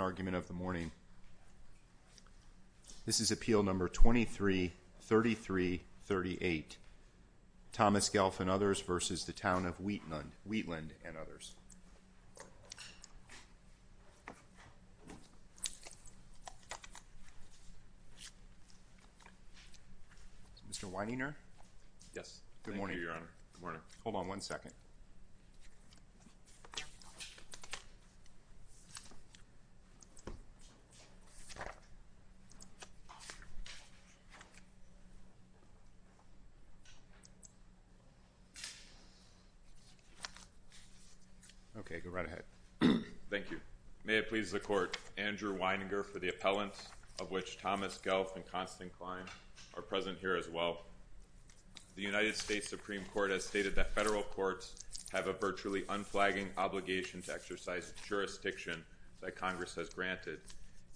argument of the morning. This is appeal number 23-33-38. Thomas Ghelf v. Town of Wheatland and others. Mr. Weininger? Yes. Good morning, Your Honor. Hold on one second. Okay, go right ahead. Thank you. May it please the Court, Andrew Weininger for the appellant of which Thomas Ghelf and Constance Klein are present here as well. The United States Supreme Court has stated that federal courts have a virtually unflagging obligation to exercise jurisdiction that Congress has granted.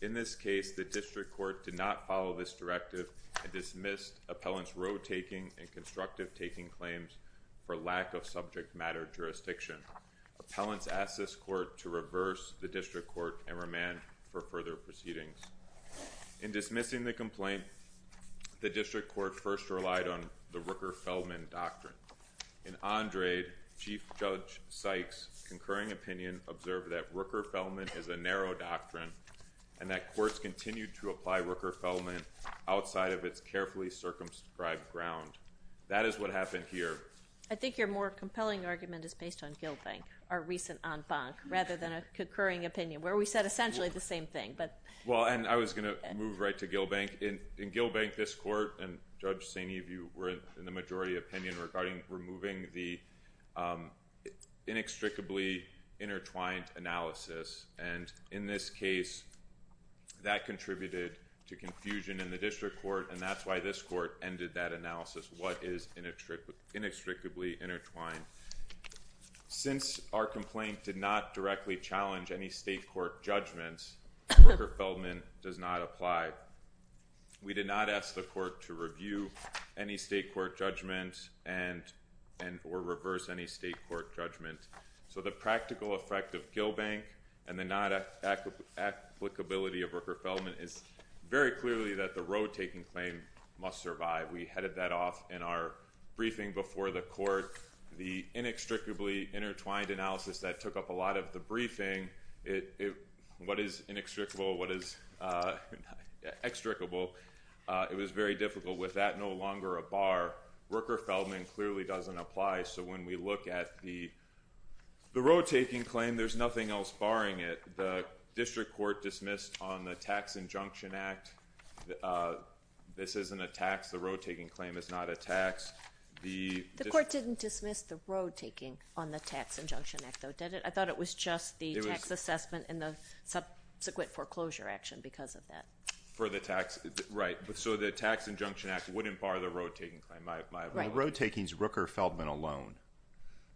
In this case, the district court did not follow this directive and dismissed appellant's road-taking and constructive-taking claims for lack of subject-matter jurisdiction. Appellants asked this court to reverse the district court and remand for further proceedings. In dismissing the complaint, the district court first relied on the Rooker-Feldman doctrine. In Andrade, Chief Judge Sykes' concurring opinion observed that Rooker-Feldman is a narrow doctrine and that courts continue to apply Rooker-Feldman outside of its carefully circumscribed ground. That is what happened here. I think you're more compelling argument is based on Gilbank, our recent en banc, rather than a concurring opinion where we said essentially the same thing. Well, and I was going to move right to Gilbank. In Gilbank, this court and Judge Saini, you were in the majority opinion regarding removing the inextricably intertwined analysis and in this case, that contributed to confusion in the district court and that's why this court ended that analysis. What is inextricably intertwined? Since our complaint did not directly challenge any state court judgments, Rooker-Feldman does not apply. We did not ask the court to review any state court judgment and or reverse any state court judgment. So the practical effect of Gilbank and the not applicability of Rooker-Feldman is very clearly that the road taking claim must survive. We headed that off in our briefing before the court. The inextricably intertwined analysis that took up a lot of the briefing, what is inextricable, what is extricable, it was very difficult. With that, no longer a bar. Rooker-Feldman clearly doesn't apply. So when we look at the road taking claim, there's nothing else barring it. The district court dismissed on the Tax Injunction Act, this isn't a tax, the road taking claim is not a tax. The court didn't dismiss the road taking on the Tax Injunction Act, did it? I thought it was just the tax assessment and the subsequent foreclosure action because of that. So the Tax Injunction Act wouldn't bar the road taking claim. The road taking is Rooker-Feldman alone.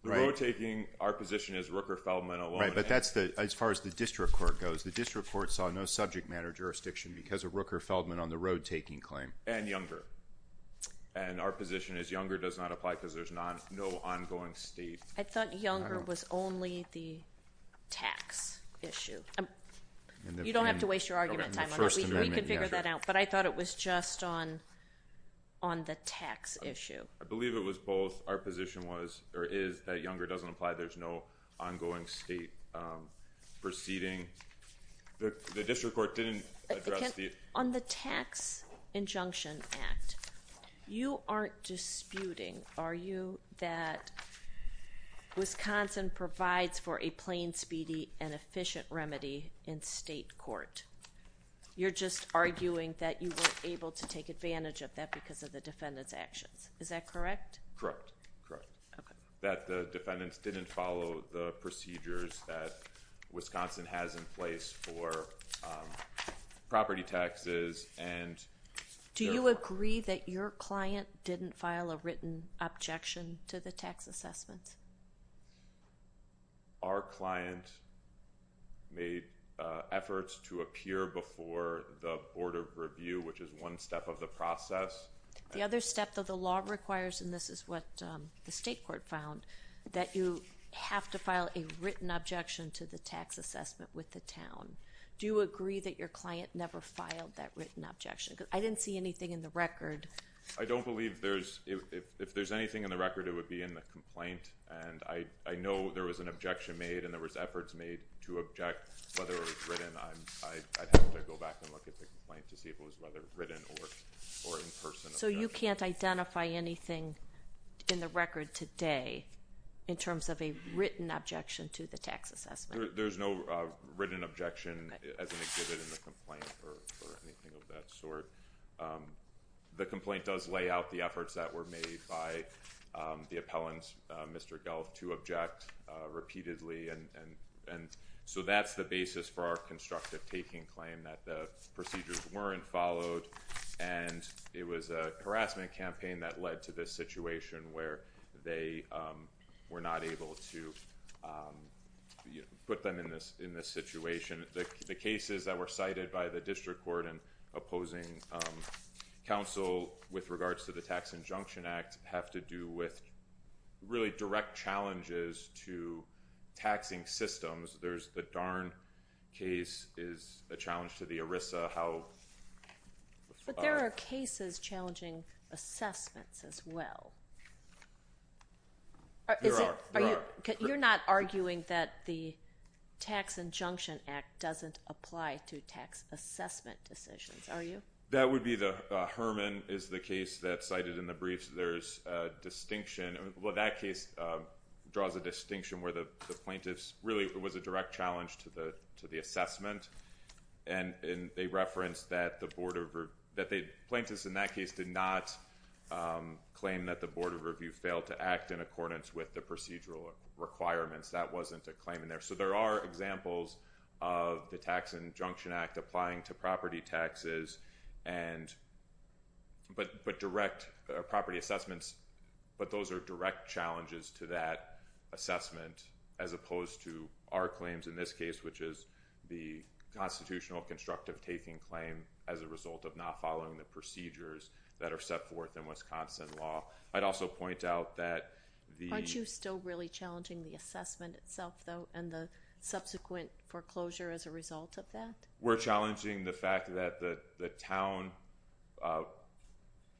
Our position is Rooker-Feldman alone. As far as the district court goes, the district court saw no subject matter jurisdiction because of Rooker-Feldman on the road taking claim. And Younger. And our position is Younger does not apply because there's no ongoing state. I thought Younger was only the tax issue. You don't have to waste your argument time on that. We can figure that out. But I thought it was just on the tax issue. I believe it was both. Our position was or is that Younger doesn't apply. There's no ongoing state proceeding. The district court didn't address the... On the Tax Injunction Act, you aren't disputing, are you, that Wisconsin provides for a plain speedy and efficient remedy in state court? You're just arguing that you weren't able to take advantage of that because of the defendant's actions. Is that correct? Correct. That the defendants didn't follow the procedures that Wisconsin has in place for property taxes. Do you agree that your client didn't file a written objection to the tax assessments? Our client made efforts to appear before the Board of Review, which is one step of the process. The other step that the law requires, and this is what the Do you agree that your client never filed that written objection? I didn't see anything in the record. I don't believe there's... If there's anything in the record, it would be in the complaint. I know there was an objection made and there was efforts made to object whether it was written. I'd have to go back and look at the complaint to see if it was whether written or in person. So you can't identify anything in the record today in terms of a written objection to the tax assessment. There's no written objection as an exhibit in the complaint or anything of that sort. The complaint does lay out the efforts that were made by the appellant, Mr. Gelf, to object repeatedly. And so that's the basis for our constructive taking claim that the procedures weren't followed. And it was a harassment campaign that led to this situation where they were not able to put them in this situation. The cases that were cited by the district court and opposing counsel with regards to the Tax Injunction Act have to do with really direct challenges to taxing systems. There's the Darn case is a challenge to the ERISA. But there are cases challenging assessments as well. There are. You're not arguing that the Tax Injunction Act doesn't apply to tax assessment decisions, are you? That would be the... Herman is the case that's cited in the briefs. There's a distinction. Well, that case draws a distinction where the plaintiffs really, it was a direct challenge to the assessment. And they referenced that the board of... that the plaintiffs in that case did not claim that the board of review failed to act in accordance with the procedural requirements. That wasn't a claim in there. So there are examples of the Tax Injunction Act applying to property taxes, but direct property assessments. But those are direct challenges to that assessment as opposed to our claims in this case, which is the constitutional constructive taking claim as a result of not following the procedures that are set forth in Wisconsin law. I'd also point out that the... Aren't you still really challenging the assessment itself, though, and the subsequent foreclosure as a result of that? We're challenging the fact that the town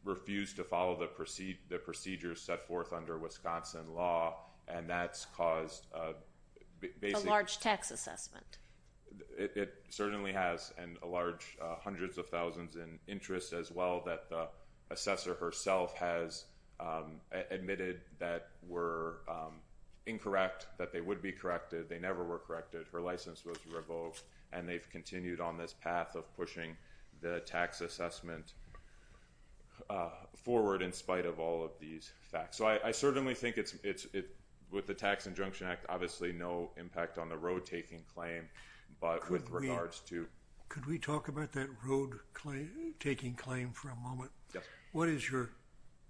refused to follow the procedures set forth under Wisconsin law, and that's caused a... A large tax assessment. It certainly has, and a large hundreds of thousands in interest as well that the assessor herself has admitted that were incorrect, that they would be corrected. They never were corrected. Her license was revoked, and they've continued on this path of pushing the tax assessment forward in spite of all of these facts. So I certainly think it's... With the Tax Injunction Act, obviously no impact on the road taking claim, but with regards to... Could we talk about that road taking claim for a moment? Yeah. What is your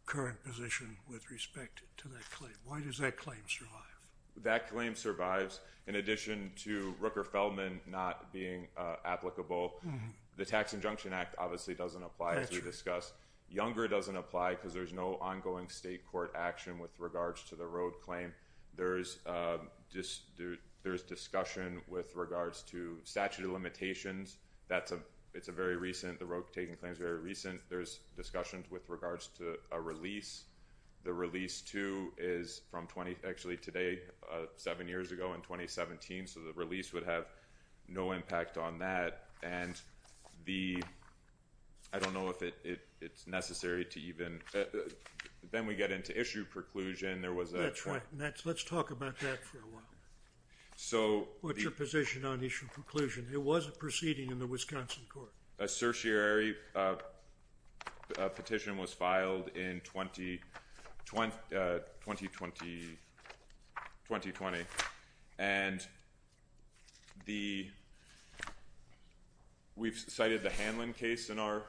current position with respect to that claim? Why does that claim survive? That claim survives. In addition to Rooker-Feldman not being applicable, the Tax Injunction Act obviously doesn't apply, as we discussed. Younger doesn't apply because there's no ongoing state court action with regards to the road claim. There's discussion with regards to statute of limitations. It's a very recent... The road taking claim is very recent. There's discussions with regards to a release. The release too is from... Actually today, seven years ago in 2017, so the release would have no impact on that. I don't know if it's necessary to even... Then we get into issue preclusion. There was a... That's right. Let's talk about that for a while. What's your position on issue preclusion? It was a proceeding in the Wisconsin court. A certiorari petition was filed in 2020. We've cited the Hanlon case in our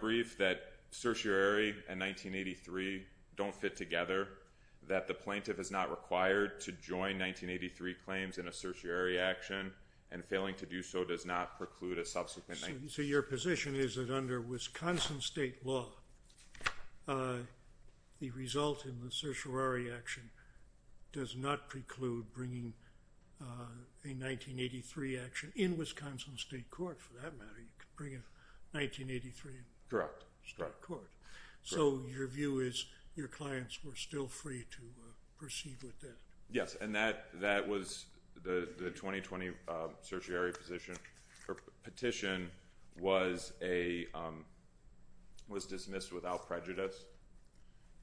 brief that certiorari and 1983 don't fit together, that the plaintiff is not required to join 1983 claims in a certiorari action, and failing to do so does not preclude a subsequent... Your position is that under Wisconsin state law, the result in the certiorari action does not preclude bringing a 1983 action in Wisconsin state court for that matter. You could bring a 1983 in state court. Your view is your clients were still free to proceed with it. Yes. That was the 2020 certiorari petition was dismissed without prejudice.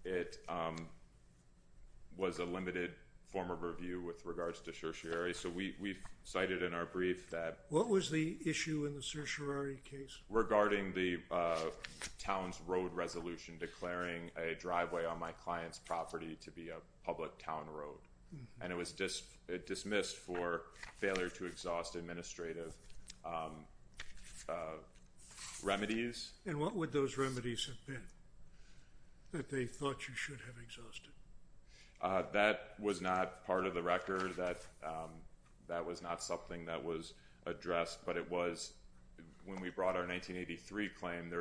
It was a limited form of review with regards to certiorari. We've cited in our brief that... What was the issue in the certiorari case? Regarding the town's road resolution declaring a driveway on my client's property to be a public town road. It was dismissed for failure to exhaust administrative remedies. What would those remedies have been that they thought you should have exhausted? That was not part of the 1983 claim.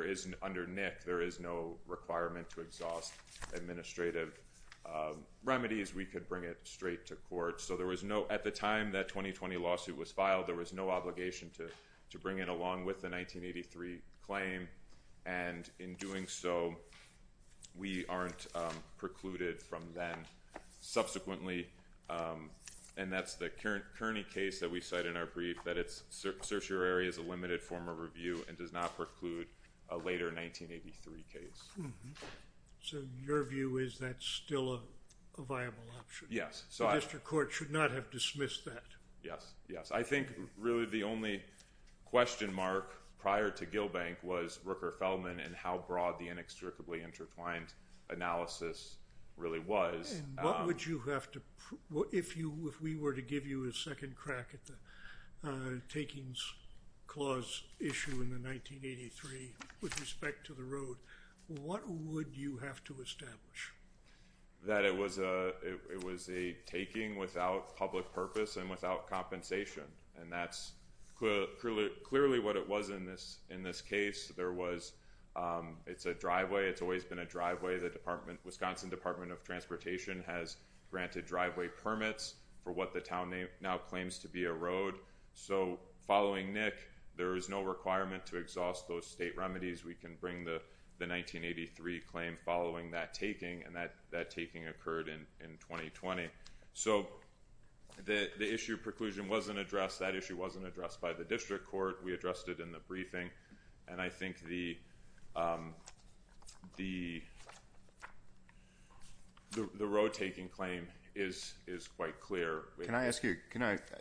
Under NIC, there is no requirement to exhaust administrative remedies. We could bring it straight to court. At the time that 2020 lawsuit was filed, there was no obligation to bring it along with the 1983 claim. In doing so, we aren't precluded from then. Subsequently, and that's the Kearney case that we cite in our brief, that certiorari is a limited form of review and does not preclude a later 1983 case. So your view is that's still a viable option? Yes. The district court should not have dismissed that. Yes. I think really the only question mark prior to Gillbank was Rooker-Feldman and how broad the inextricably intertwined analysis really was. If we were to give you a second crack at the takings clause issue in the 1983 with respect to the road, what would you have to establish? That it was a taking without public purpose and without compensation. And that's clearly what it was in this case. It's a driveway. It's always been a driveway. The Wisconsin Department of Transportation has granted driveway permits for what the town now claims to be a road. So following Nick, there is no requirement to exhaust those state remedies. We can bring the 1983 claim following that taking and that taking occurred in 2020. So the issue of preclusion wasn't addressed. That issue wasn't addressed by the district court. We addressed it in the briefing. And I think the road taking claim is quite clear. Can I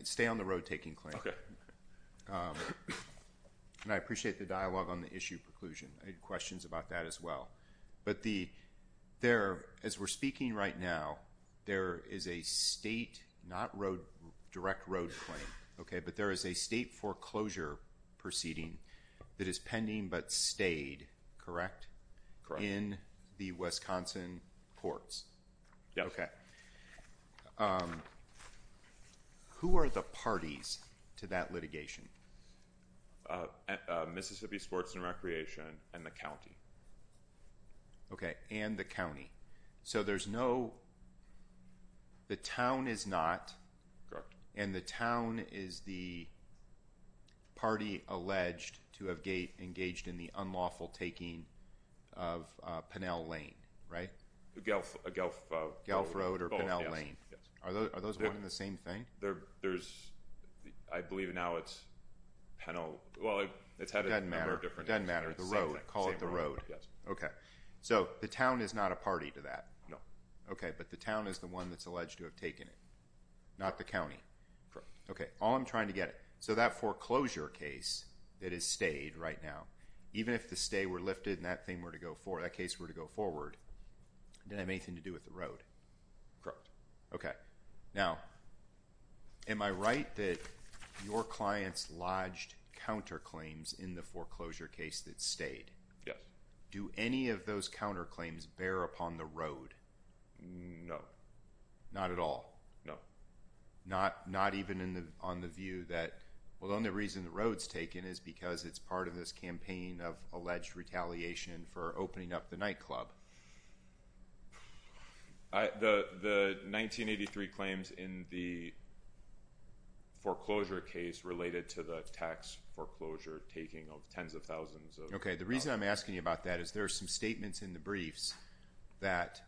stay on the road taking claim? Okay. And I appreciate the dialogue on the issue of preclusion. I had questions about that as well. But as we're speaking right now, there is a state, not direct road claim, but there is a state foreclosure proceeding that is pending but stayed, correct? Correct. In the Wisconsin courts. Yes. Okay. Who are the parties to that litigation? Mississippi Sports and Recreation and the county. Okay. And the county. So there's no, the town is not, and the town is the party alleged to have engaged in the unlawful taking of Pinnell Lane, right? Gulf Road or Pinnell Lane. Are those one and the same thing? There's, I believe now it's Pinnell, well, it's had a number of different names. Doesn't matter. Doesn't matter. The road. Call it the road. Yes. Okay. So the town is not a party to that. No. Okay. But the town is the one that's alleged to have taken it. Not the county. Correct. Okay. All I'm trying to get, so that foreclosure case that is stayed right now, even if the stay were lifted and that thing were to go forward, that case were to go forward, did it have anything to do with the road? Correct. Okay. Now, am I right that your clients lodged counterclaims in the foreclosure case that stayed? Yeah. Do any of those counterclaims bear upon the road? No. Not at all? No. Not even in the, on the view that, well, the only reason the road's taken is because it's part of this campaign of alleged retaliation for opening up the nightclub? The 1983 claims in the foreclosure case related to the tax foreclosure taking of tens of thousands. Okay. The reason I'm asking you about that is there are some statements in the briefs that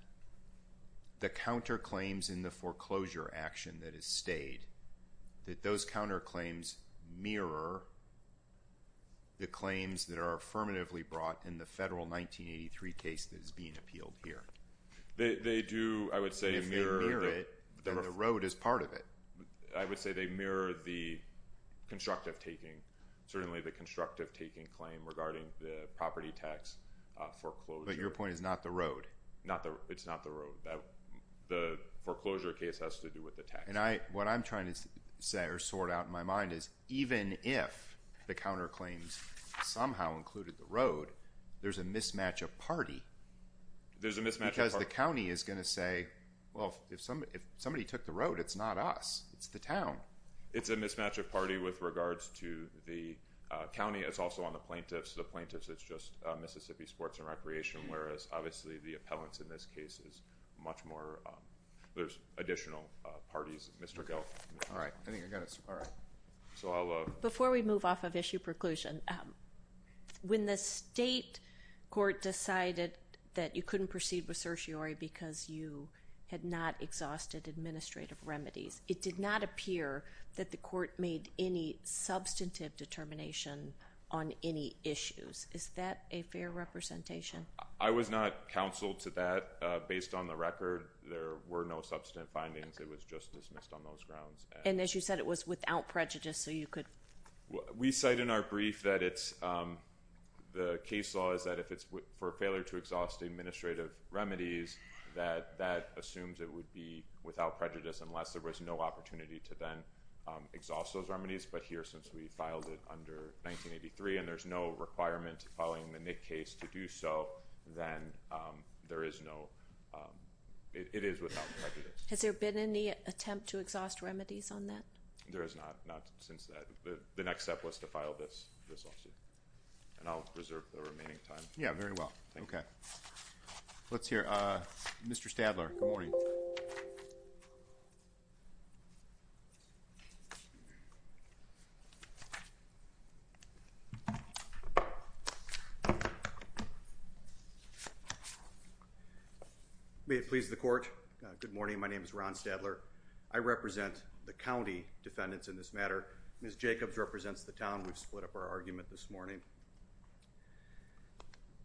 the counterclaims in the foreclosure action that is stayed, that those counterclaims mirror the claims that are affirmatively brought in the federal 1983 case that is being appealed here. They do, I would say, mirror it. And the road is part of it. I would say they mirror the constructive taking, certainly the constructive taking claim regarding the property tax foreclosure. But your point is not the road? It's not the road. The foreclosure case has to do with the tax. And I, what I'm trying to say or sort out in my mind is even if the counterclaims somehow included the road, there's a mismatch of party. There's a mismatch of party. Because the county is going to say, well, if somebody took the road, it's not us. It's the town. It's a mismatch of party with regards to the county. It's also on the plaintiffs. The plaintiffs, it's just Mississippi Sports and Recreation, whereas obviously the appellants in this case is much more, there's additional parties. Mr. Gelfand. All right. I think I got it. All right. So I'll Before we move off of issue preclusion, when the state court decided that you couldn't proceed with certiorari because you had not exhausted administrative remedies, it did not appear that the court made any substantive determination on any issues. Is that a fair representation? I was not counseled to that. Based on the record, there were no substantive findings. It was just dismissed on those grounds. And as you said, it was without prejudice. So you could we cite in our brief that it's the case law is that if it's for failure to exhaust administrative remedies, that that assumes it would be without prejudice unless there was no opportunity to then exhaust those remedies. But here, since we filed it under 1983, and there's no requirement following the Nick case to do so, then there is no it is without prejudice. Has there been any attempt to exhaust remedies on that? There is not. Not since that. The next step was to file this this lawsuit. And I'll reserve the remaining time. Yeah, very well. Okay. Let's hear Mr. Stadler. Good morning. May it please the court. Good morning. My name is Ron Stadler. I represent the county defendants in this matter. Ms. Jacobs represents the town. We've split up our argument this morning.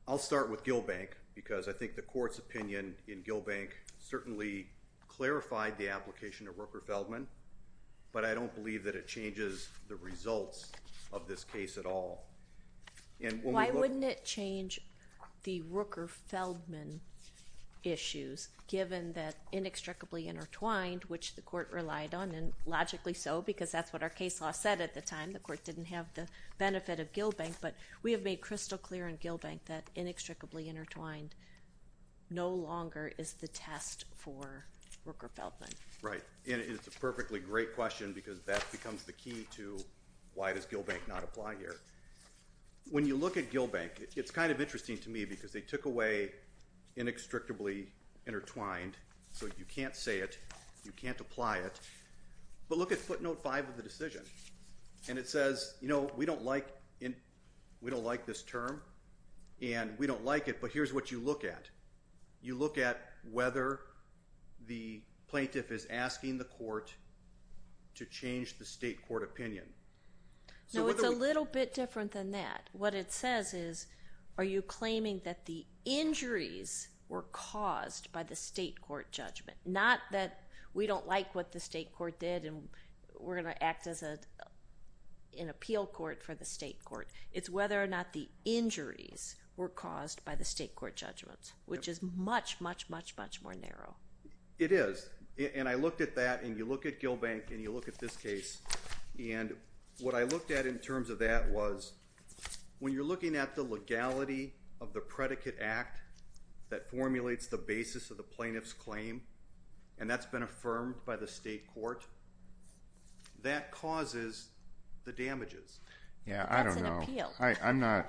I'll start with Gilbank because I think the court's opinion in Gilbank certainly clarified the application of Rooker Feldman. But I don't believe that it changes the results of this case at all. And why wouldn't it change the Rooker Feldman issues given that inextricably intertwined which the court relied on and logically so because that's what our case law said at the time. The court didn't have the benefit of Gilbank, but we have made crystal clear in Gilbank that inextricably intertwined no longer is the test for Rooker Feldman. Right. And it's a perfectly great question because that becomes the key to why does Gilbank not apply here. When you look at Gilbank, it's kind of interesting to me because they took away inextricably intertwined, so you can't say it, you can't apply it, but look at footnote 5 of the decision and it says, you know, we don't like in we don't like this term and we don't like it, but here's what you look at. You look at whether the plaintiff is asking the court to change the state court opinion. No, it's a little bit different than that. What it says is are you claiming that the injuries were caused by the state court judgment. Not that we don't like what the state court did and we're going to act as an appeal court for the state court. It's whether or not the injuries were caused by the state court judgments, which is much, much, much, much more narrow. It is, and I looked at that and you look at Gilbank and you look at this case and what I looked at in terms of that was when you're looking at the legality of the predicate act that formulates the basis of the plaintiff's claim and that's been affirmed by the state court, that causes the damages. Yeah, I don't know.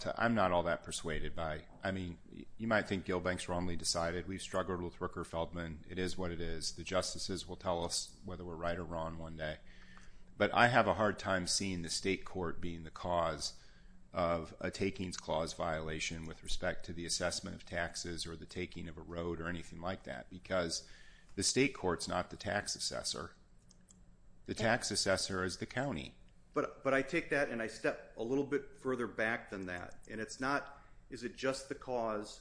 I'm not all that persuaded by, I mean, you might think Gilbank's wrongly decided. We've struggled with Rooker-Feldman. It is what it is. The justices will tell us whether we're right or wrong one day, but I have a hard time seeing the state court being the cause of a takings clause violation with respect to the assessment of taxes or the taking of a road or anything like that because the state court's not the tax assessor. The tax assessor is the county. But I take that and I step a little bit further back than that and it's not, is it just the cause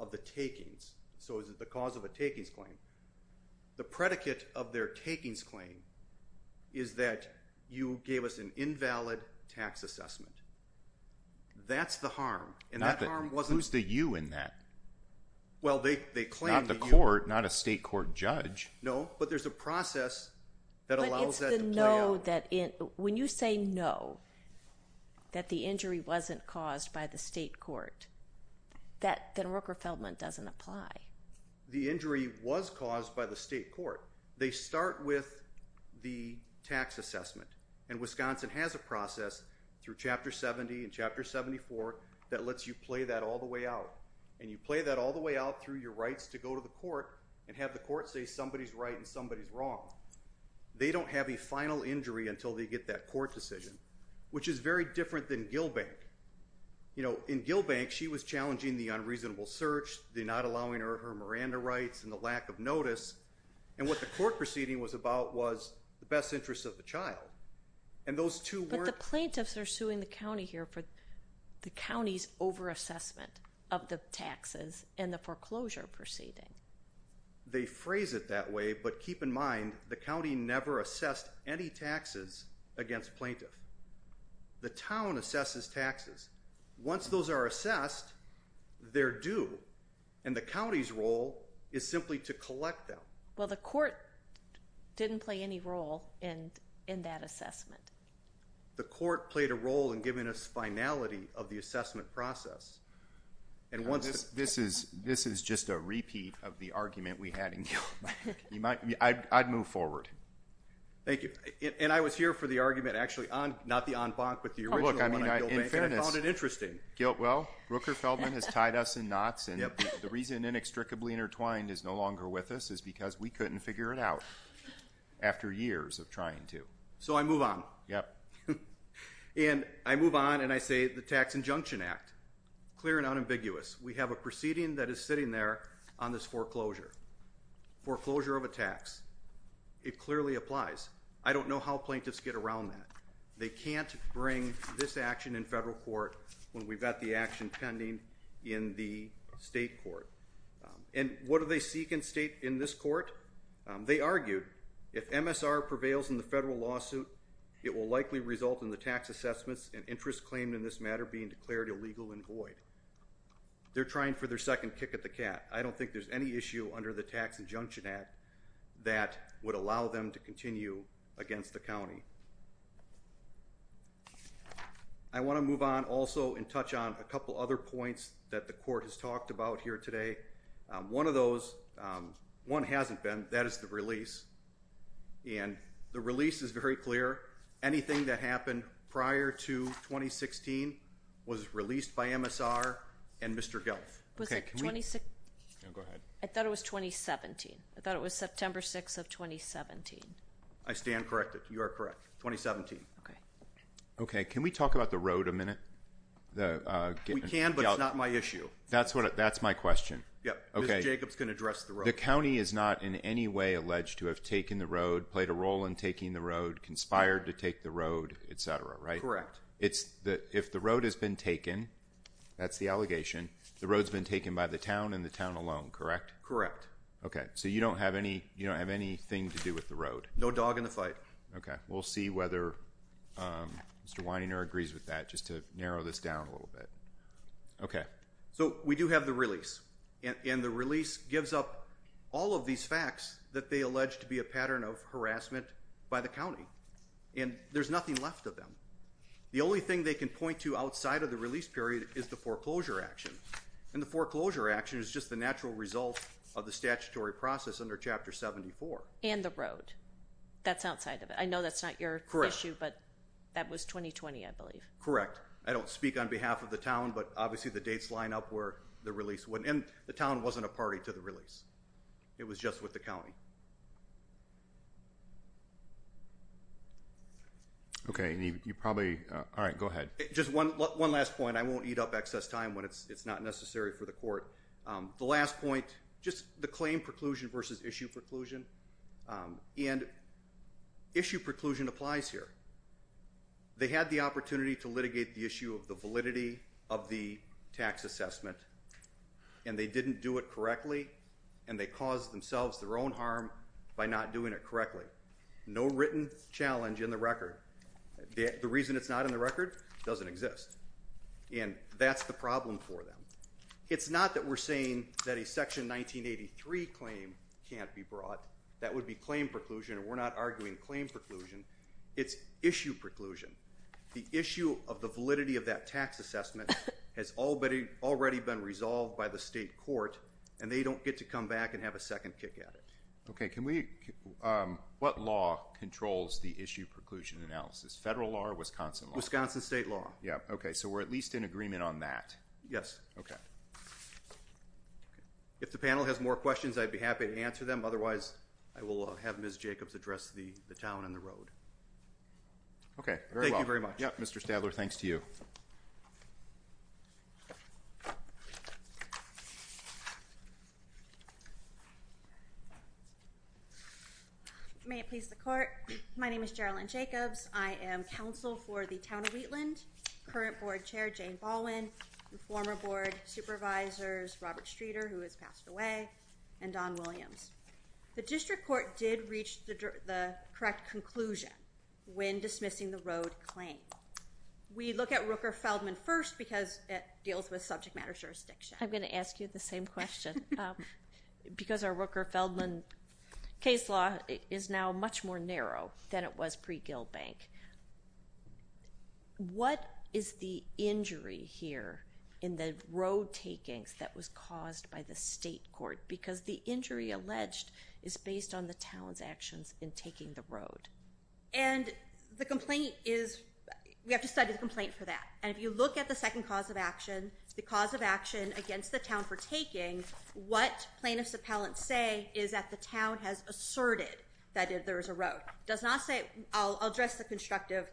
of the takings? So is it the cause of a takings claim? The predicate of their takings claim is that you gave us an invalid tax assessment. That's the harm. And that harm wasn't... Who's the you in that? Well, they claim... Not the court, not a state court judge. No, but there's a process that allows that to play out. But it's the no that, when you say no, that the injury wasn't caused by the state court, that Rooker-Feldman doesn't apply. The injury was caused by the state court. They start with the tax assessment and Wisconsin has a process through Chapter 70 and Chapter 74 that lets you play that all the way out. And you play that all the way out through your rights to go to the court and have the court say somebody's right and somebody's wrong. They don't have a final injury until they get that court decision, which is very different than Gill Bank. You know, in Gill Bank, she was challenging the unreasonable search, the not allowing her Miranda rights and the lack of notice. And what the court proceeding was about was the best interests of the child. And those two were... But the plaintiffs are suing the county here for the county's over-assessment of the taxes and the foreclosure proceeding. They phrase it that way, but keep in mind, the county never assessed any taxes against plaintiff. The town assesses taxes. Once those are assessed, they're due. And the county's role is simply to collect them. Well, the court didn't play any role in that assessment. The court played a role in giving us finality of the assessment process. This is just a repeat of the argument we had in Gill Bank. I'd move forward. Thank you. And I was here for the argument, actually, not the en banc, but the original one in Gill Bank. And I found it interesting. Well, Rooker-Feldman has tied us in knots. And the reason inextricably intertwined is no longer with us is because we couldn't figure it out after years of trying to. So I move on. And I move on and I say the Tax Injunction Act, clear and unambiguous. We have a proceeding that is sitting there on this foreclosure, foreclosure of a tax. It clearly applies. I don't know how plaintiffs get around that. They can't bring this action in federal court when we've got the action pending in the state court. And what do they seek in this court? They argued if MSR prevails in the federal lawsuit, it will likely result in the tax assessments and interest claimed in this matter being declared illegal and void. They're trying for their second kick at the cat. I don't think there's any issue under the Tax Injunction Act that would allow them to continue against the county. I want to move on also and touch on a couple other points that the court has talked about here today. One of those, one hasn't been, that is the release. And the release is very clear. Anything that happened prior to 2016 was released by MSR and Mr. Gelf. Was it 2016? Go ahead. I thought it was 2017. I thought it was September 6th of 2017. I stand corrected. You are correct. 2017. Okay. Can we talk about the road a minute? We can, but it's not my issue. That's my question. Ms. Jacobs can address the road. The county is not in any way alleged to have taken the road, played a role in taking the road, conspired to take the road, etc., right? Correct. If the road has been taken, that's the allegation, the road's been taken by the town and the town alone, correct? Correct. Okay. So you don't have any, you don't have anything to do with the road? No dog in the fight. Okay. We'll see whether Mr. Weininger agrees with that just to narrow this down a little bit. Okay. So we do have the release. And the release gives up all of these facts that they allege to be a pattern of harassment by the county. And there's nothing left of them. The only thing they can point to outside of the release period is the foreclosure action. And the foreclosure action is just the natural result of the statutory process under Chapter 74. And the road. That's outside of it. I know that's not your issue, but that was 2020, I believe. I don't speak on behalf of the town, but obviously the dates line up where the release went. And the town wasn't a party to the release. It was just with the county. Okay. You probably, all right, go ahead. Just one last point. I won't eat up excess time when it's not necessary for the court. The last point, just the claim preclusion versus issue preclusion. And issue preclusion applies here. They had the opportunity to litigate the issue of the validity of the tax assessment. And they didn't do it correctly. And they caused themselves their own harm by not doing it correctly. No written challenge in the record. The reason it's not in the record doesn't exist. And that's the problem for them. It's not that we're saying that a Section 1983 claim can't be brought. That would be claim preclusion. And we're not arguing claim preclusion. It's issue preclusion. The issue of the validity of that tax assessment has already been resolved by the state court. And they don't get to come back and have a second kick at it. Okay. What law controls the issue preclusion analysis? Federal law or Wisconsin law? Wisconsin state law. Yeah. Okay. So we're at least in agreement on that. Yes. Okay. If the panel has more questions, I'd be happy to answer them. Otherwise, I will have Ms. Jacobs address the town and the road. Okay. Very well. Thank you very much. Yeah. Mr. Stadler, thanks to you. May it please the court. My name is Gerilyn Jacobs. I am counsel for the town of Wheatland, current board chair Jane Baldwin, and former board supervisors Robert Streeter, who has passed away, and Don Williams. The district court did reach the correct conclusion when dismissing the road claim. We look at Rooker-Feldman first because it deals with subject matter jurisdiction. I'm going to ask you the same question. Because our Rooker-Feldman case law is now much more narrow than it was pre-Gilbank. What is the injury here in the road takings that was caused by the state court? Because the injury alleged is based on the town's actions in taking the road. And the complaint is we have to study the complaint for that. And if you look at the second cause of action, the cause of action against the town for taking, what plaintiffs' appellants say is that the town has asserted that there is a road. Does not say, I'll address the constructive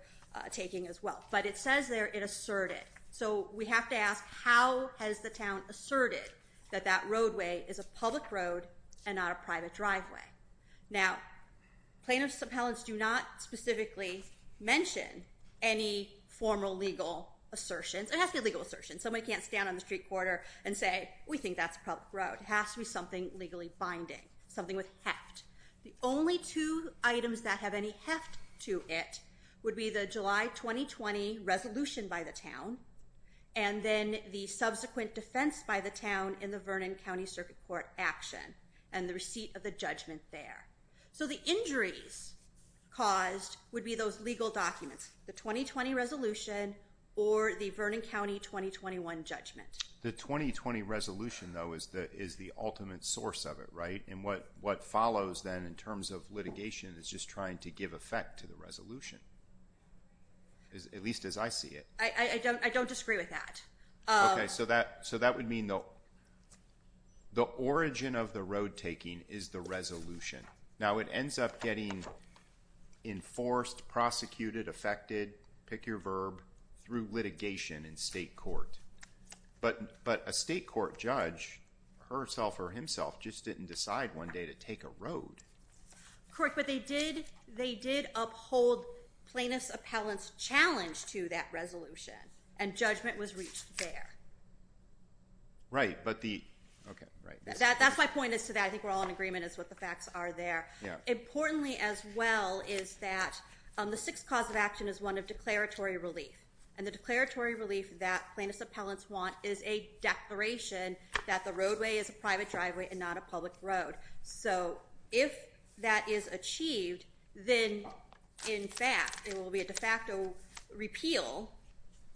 taking as well. But it says there it asserted. So we have to ask how has the town asserted that that roadway is a public road and not a private driveway? Now, plaintiffs' appellants do not specifically mention any formal legal assertions. It has to be legal assertions. Somebody can't stand on the street corner and say, we think that's a public road. It has to be something legally binding, something with heft. The only two items that have any heft to it would be the July 2020 resolution by the town and then the subsequent defense by the town in the Vernon County Circuit Court action and the receipt of the judgment there. So the injuries caused would be those legal documents, the 2020 resolution, or the Vernon County 2021 judgment. The 2020 resolution, though, is the ultimate source of it, right? And what follows then in terms of litigation is just trying to give effect to the resolution, at least as I see it. I don't disagree with that. Okay, so that would mean the origin of the road taking is the resolution. Now, it ends up getting enforced, prosecuted, affected, pick your verb, through litigation in state court. But a state court judge, herself or himself, just didn't decide one day to take a road. Correct, but they did uphold plaintiffs' appellants' challenge to that resolution, and judgment was reached there. Right, but the – okay, right. That's my point as to that. I think we're all in agreement as to what the facts are there. Importantly, as well, is that the sixth cause of action is one of declaratory relief, and the declaratory relief that plaintiffs' appellants want is a declaration that the roadway is a private driveway and not a public road. So if that is achieved, then, in fact, it will be a de facto repeal,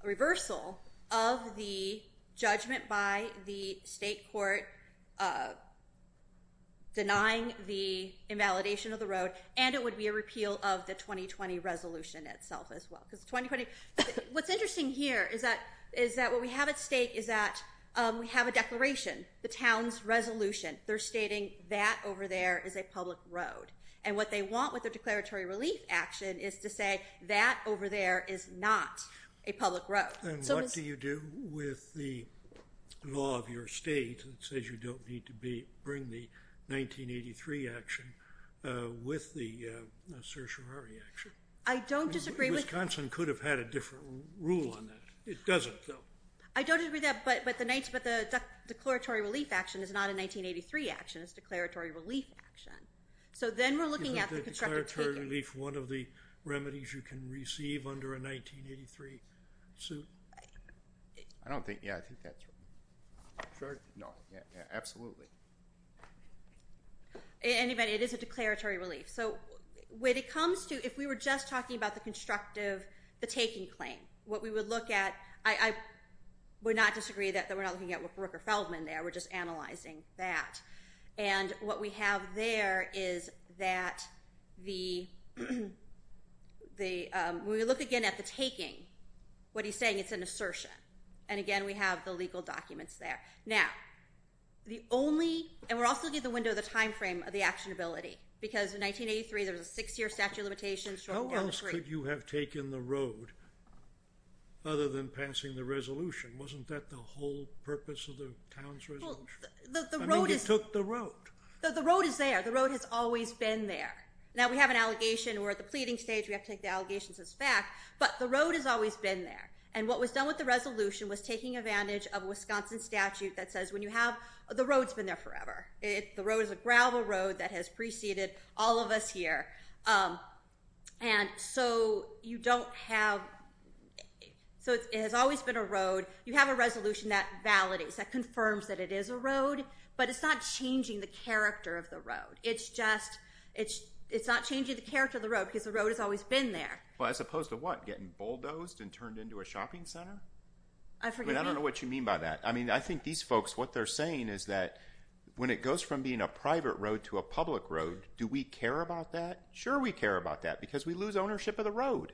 a reversal of the judgment by the state court denying the invalidation of the road, and it would be a repeal of the 2020 resolution itself as well. What's interesting here is that what we have at stake is that we have a declaration, the town's resolution. They're stating that over there is a public road. And what they want with their declaratory relief action is to say that over there is not a public road. And what do you do with the law of your state that says you don't need to bring the 1983 action with the certiorari action? I don't disagree with that. Wisconsin could have had a different rule on that. It doesn't, though. I don't agree with that, but the declaratory relief action is not a 1983 action. It's a declaratory relief action. So then we're looking at the constructive taking. Isn't the declaratory relief one of the remedies you can receive under a 1983 suit? I don't think, yeah, I think that's right. Sure? No. Absolutely. Anyway, it is a declaratory relief. So when it comes to, if we were just talking about the constructive, the taking claim, what we would look at, I would not disagree that we're not looking at Rooker Feldman there. We're just analyzing that. And what we have there is that the, when we look again at the taking, what he's saying, it's an assertion. And, again, we have the legal documents there. Now, the only, and we're also looking at the window of the time frame of the actionability, because in 1983 there was a six-year statute of limitations. How else could you have taken the road other than passing the resolution? Wasn't that the whole purpose of the town's resolution? I mean, he took the road. The road is there. The road has always been there. Now, we have an allegation. We're at the pleading stage. We have to take the allegations as fact. But the road has always been there. And what was done with the resolution was taking advantage of a Wisconsin statute that says, when you have, the road's been there forever. The road is a gravel road that has preceded all of us here. And so you don't have, so it has always been a road. You have a resolution that validates, that confirms that it is a road, but it's not changing the character of the road. It's just, it's not changing the character of the road because the road has always been there. Well, as opposed to what, getting bulldozed and turned into a shopping center? I don't know what you mean by that. I mean, I think these folks, what they're saying is that when it goes from being a private road to a public road, do we care about that? Sure we care about that because we lose ownership of the road.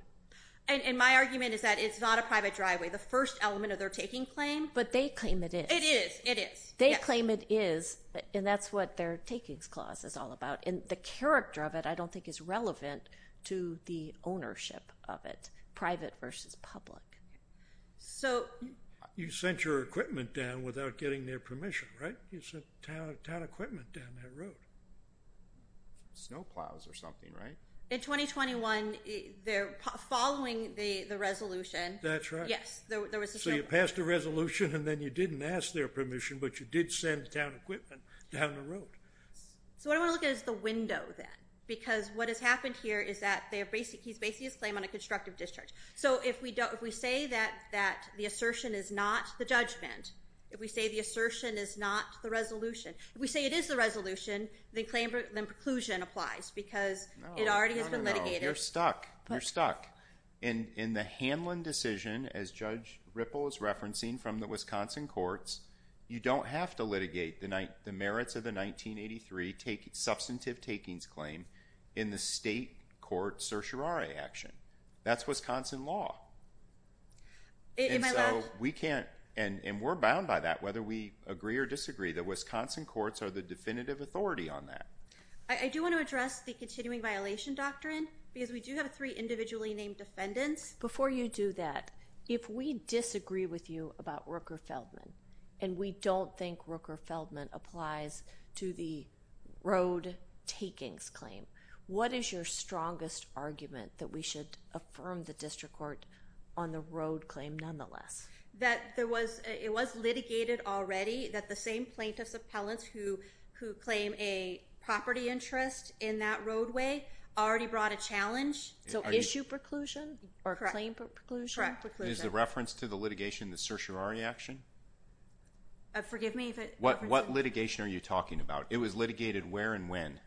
And my argument is that it's not a private driveway. The first element of their taking claim. But they claim it is. It is, it is. They claim it is, and that's what their takings clause is all about. And the character of it I don't think is relevant to the ownership of it, private versus public. So. You sent your equipment down without getting their permission, right? You sent town equipment down that road. Snowplows or something, right? In 2021, they're following the resolution. That's right. Yes. So you passed a resolution and then you didn't ask their permission, but you did send town equipment down the road. So what I want to look at is the window then. Because what has happened here is that he's basing his claim on a constructive discharge. So if we say that the assertion is not the judgment, if we say the assertion is not the resolution, if we say it is the resolution, then preclusion applies because it already has been litigated. You're stuck. You're stuck. And in the Hanlon decision, as Judge Ripple is referencing from the Wisconsin courts, you don't have to litigate the merits of the 1983 substantive takings claim in the state court certiorari action. That's Wisconsin law. And so we can't. And we're bound by that, whether we agree or disagree. The Wisconsin courts are the definitive authority on that. I do want to address the continuing violation doctrine because we do have three individually named defendants. Before you do that, if we disagree with you about Rooker-Feldman and we don't think Rooker-Feldman applies to the road takings claim, what is your strongest argument that we should affirm the district court on the road claim nonetheless? It was litigated already that the same plaintiffs' appellants who claim a property interest in that roadway already brought a challenge. So issue preclusion or claim preclusion? Is the reference to the litigation the certiorari action? Forgive me? What litigation are you talking about? It was litigated where and when?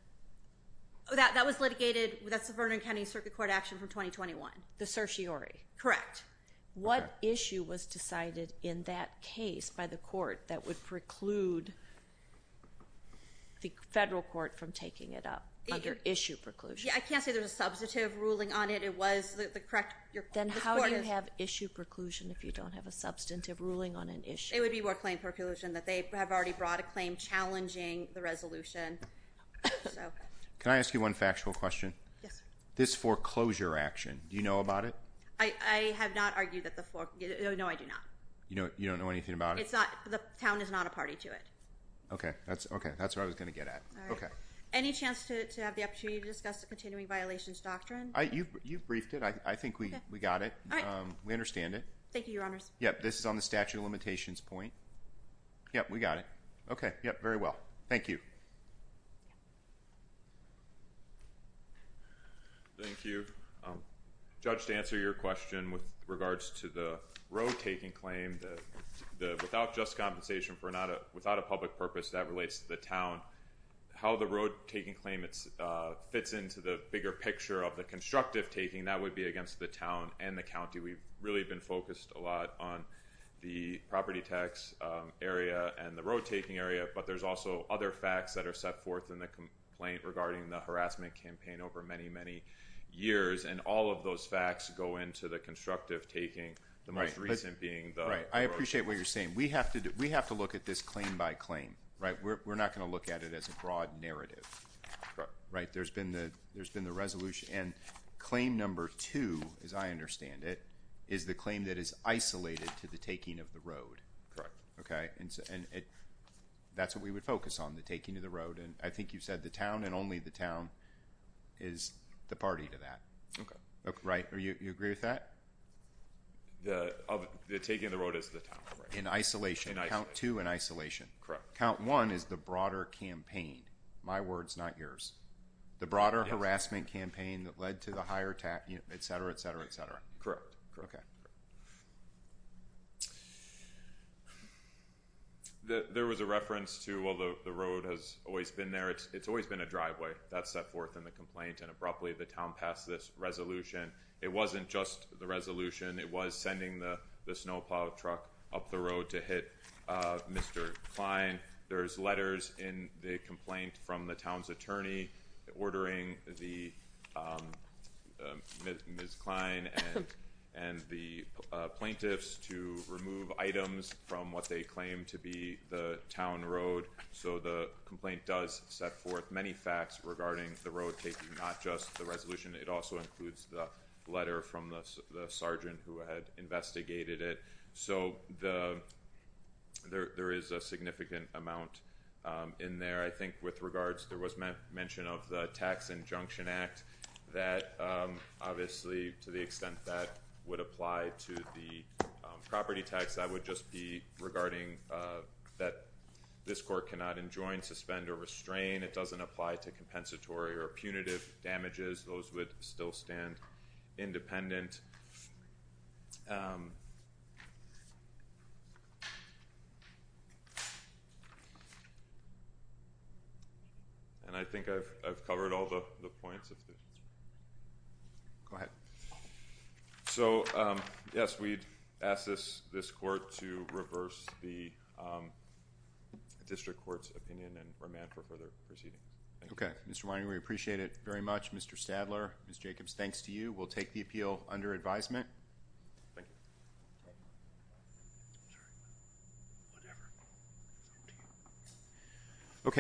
That was litigated. That's the Vernon County Circuit Court action from 2021. The certiorari. Correct. What issue was decided in that case by the court that would preclude the federal court from taking it up under issue preclusion? I can't say there's a substantive ruling on it. It was the correct court. Then how do you have issue preclusion if you don't have a substantive ruling on an issue? It would be more claim preclusion that they have already brought a claim challenging the resolution. Can I ask you one factual question? Yes. This foreclosure action, do you know about it? I have not argued that the foreclosure. No, I do not. You don't know anything about it? The town is not a party to it. Okay. That's what I was going to get at. Any chance to have the opportunity to discuss the continuing violations doctrine? You briefed it. I think we got it. We understand it. Thank you, Your Honors. This is on the statute of limitations point. We got it. Okay. Very well. Thank you. Thank you. Judge, to answer your question with regards to the road taking claim, without just compensation, without a public purpose that relates to the town, how the road taking claim fits into the bigger picture of the constructive taking, that would be against the town and the county. We've really been focused a lot on the property tax area and the road taking area, but there's also other facts that are set forth in the complaint regarding the harassment campaign over many, many years. And all of those facts go into the constructive taking, the most recent being the road taking. I appreciate what you're saying. We have to look at this claim by claim, right? We're not going to look at it as a broad narrative, right? There's been the resolution. And claim number two, as I understand it, is the claim that is isolated to the taking of the road. Correct. Okay. And that's what we would focus on, the taking of the road. And I think you said the town and only the town is the party to that. Okay. Right? You agree with that? The taking of the road is the town. In isolation. In isolation. Count two in isolation. Correct. Count one is the broader campaign. My words, not yours. The broader harassment campaign that led to the higher tax, et cetera, et cetera, et cetera. Correct. Okay. And then there was a reference to, well, the road has always been there. It's always been a driveway that's set forth in the complaint. And abruptly the town passed this resolution. It wasn't just the resolution. It was sending the snow plow truck up the road to hit Mr. Klein. There's letters in the complaint from the town's attorney. Ordering the. Ms. Klein. And the plaintiffs to remove items from what they claim to be the town road. So the complaint does set forth many facts regarding the road taking, not just the resolution. It also includes the letter from the S the sergeant who had investigated it. So the. There, there is a significant amount. In there, I think with regards, there was meant mention of the tax and junction act that obviously to the extent that would apply to the property tax, I would just be regarding that. This court cannot enjoin suspend or restrain. It doesn't apply to compensatory or punitive damages. Those would still stand. Independent. And I think I've covered all the points. So, um, yes. We'd ask this, this court to reverse the, um, District court's opinion and remand for further proceeding. Mr. Whining. We appreciate it very much. Mr. Stadler is Jacobs. Thanks to you. We'll take the appeal under advisement. Thank you. Okay.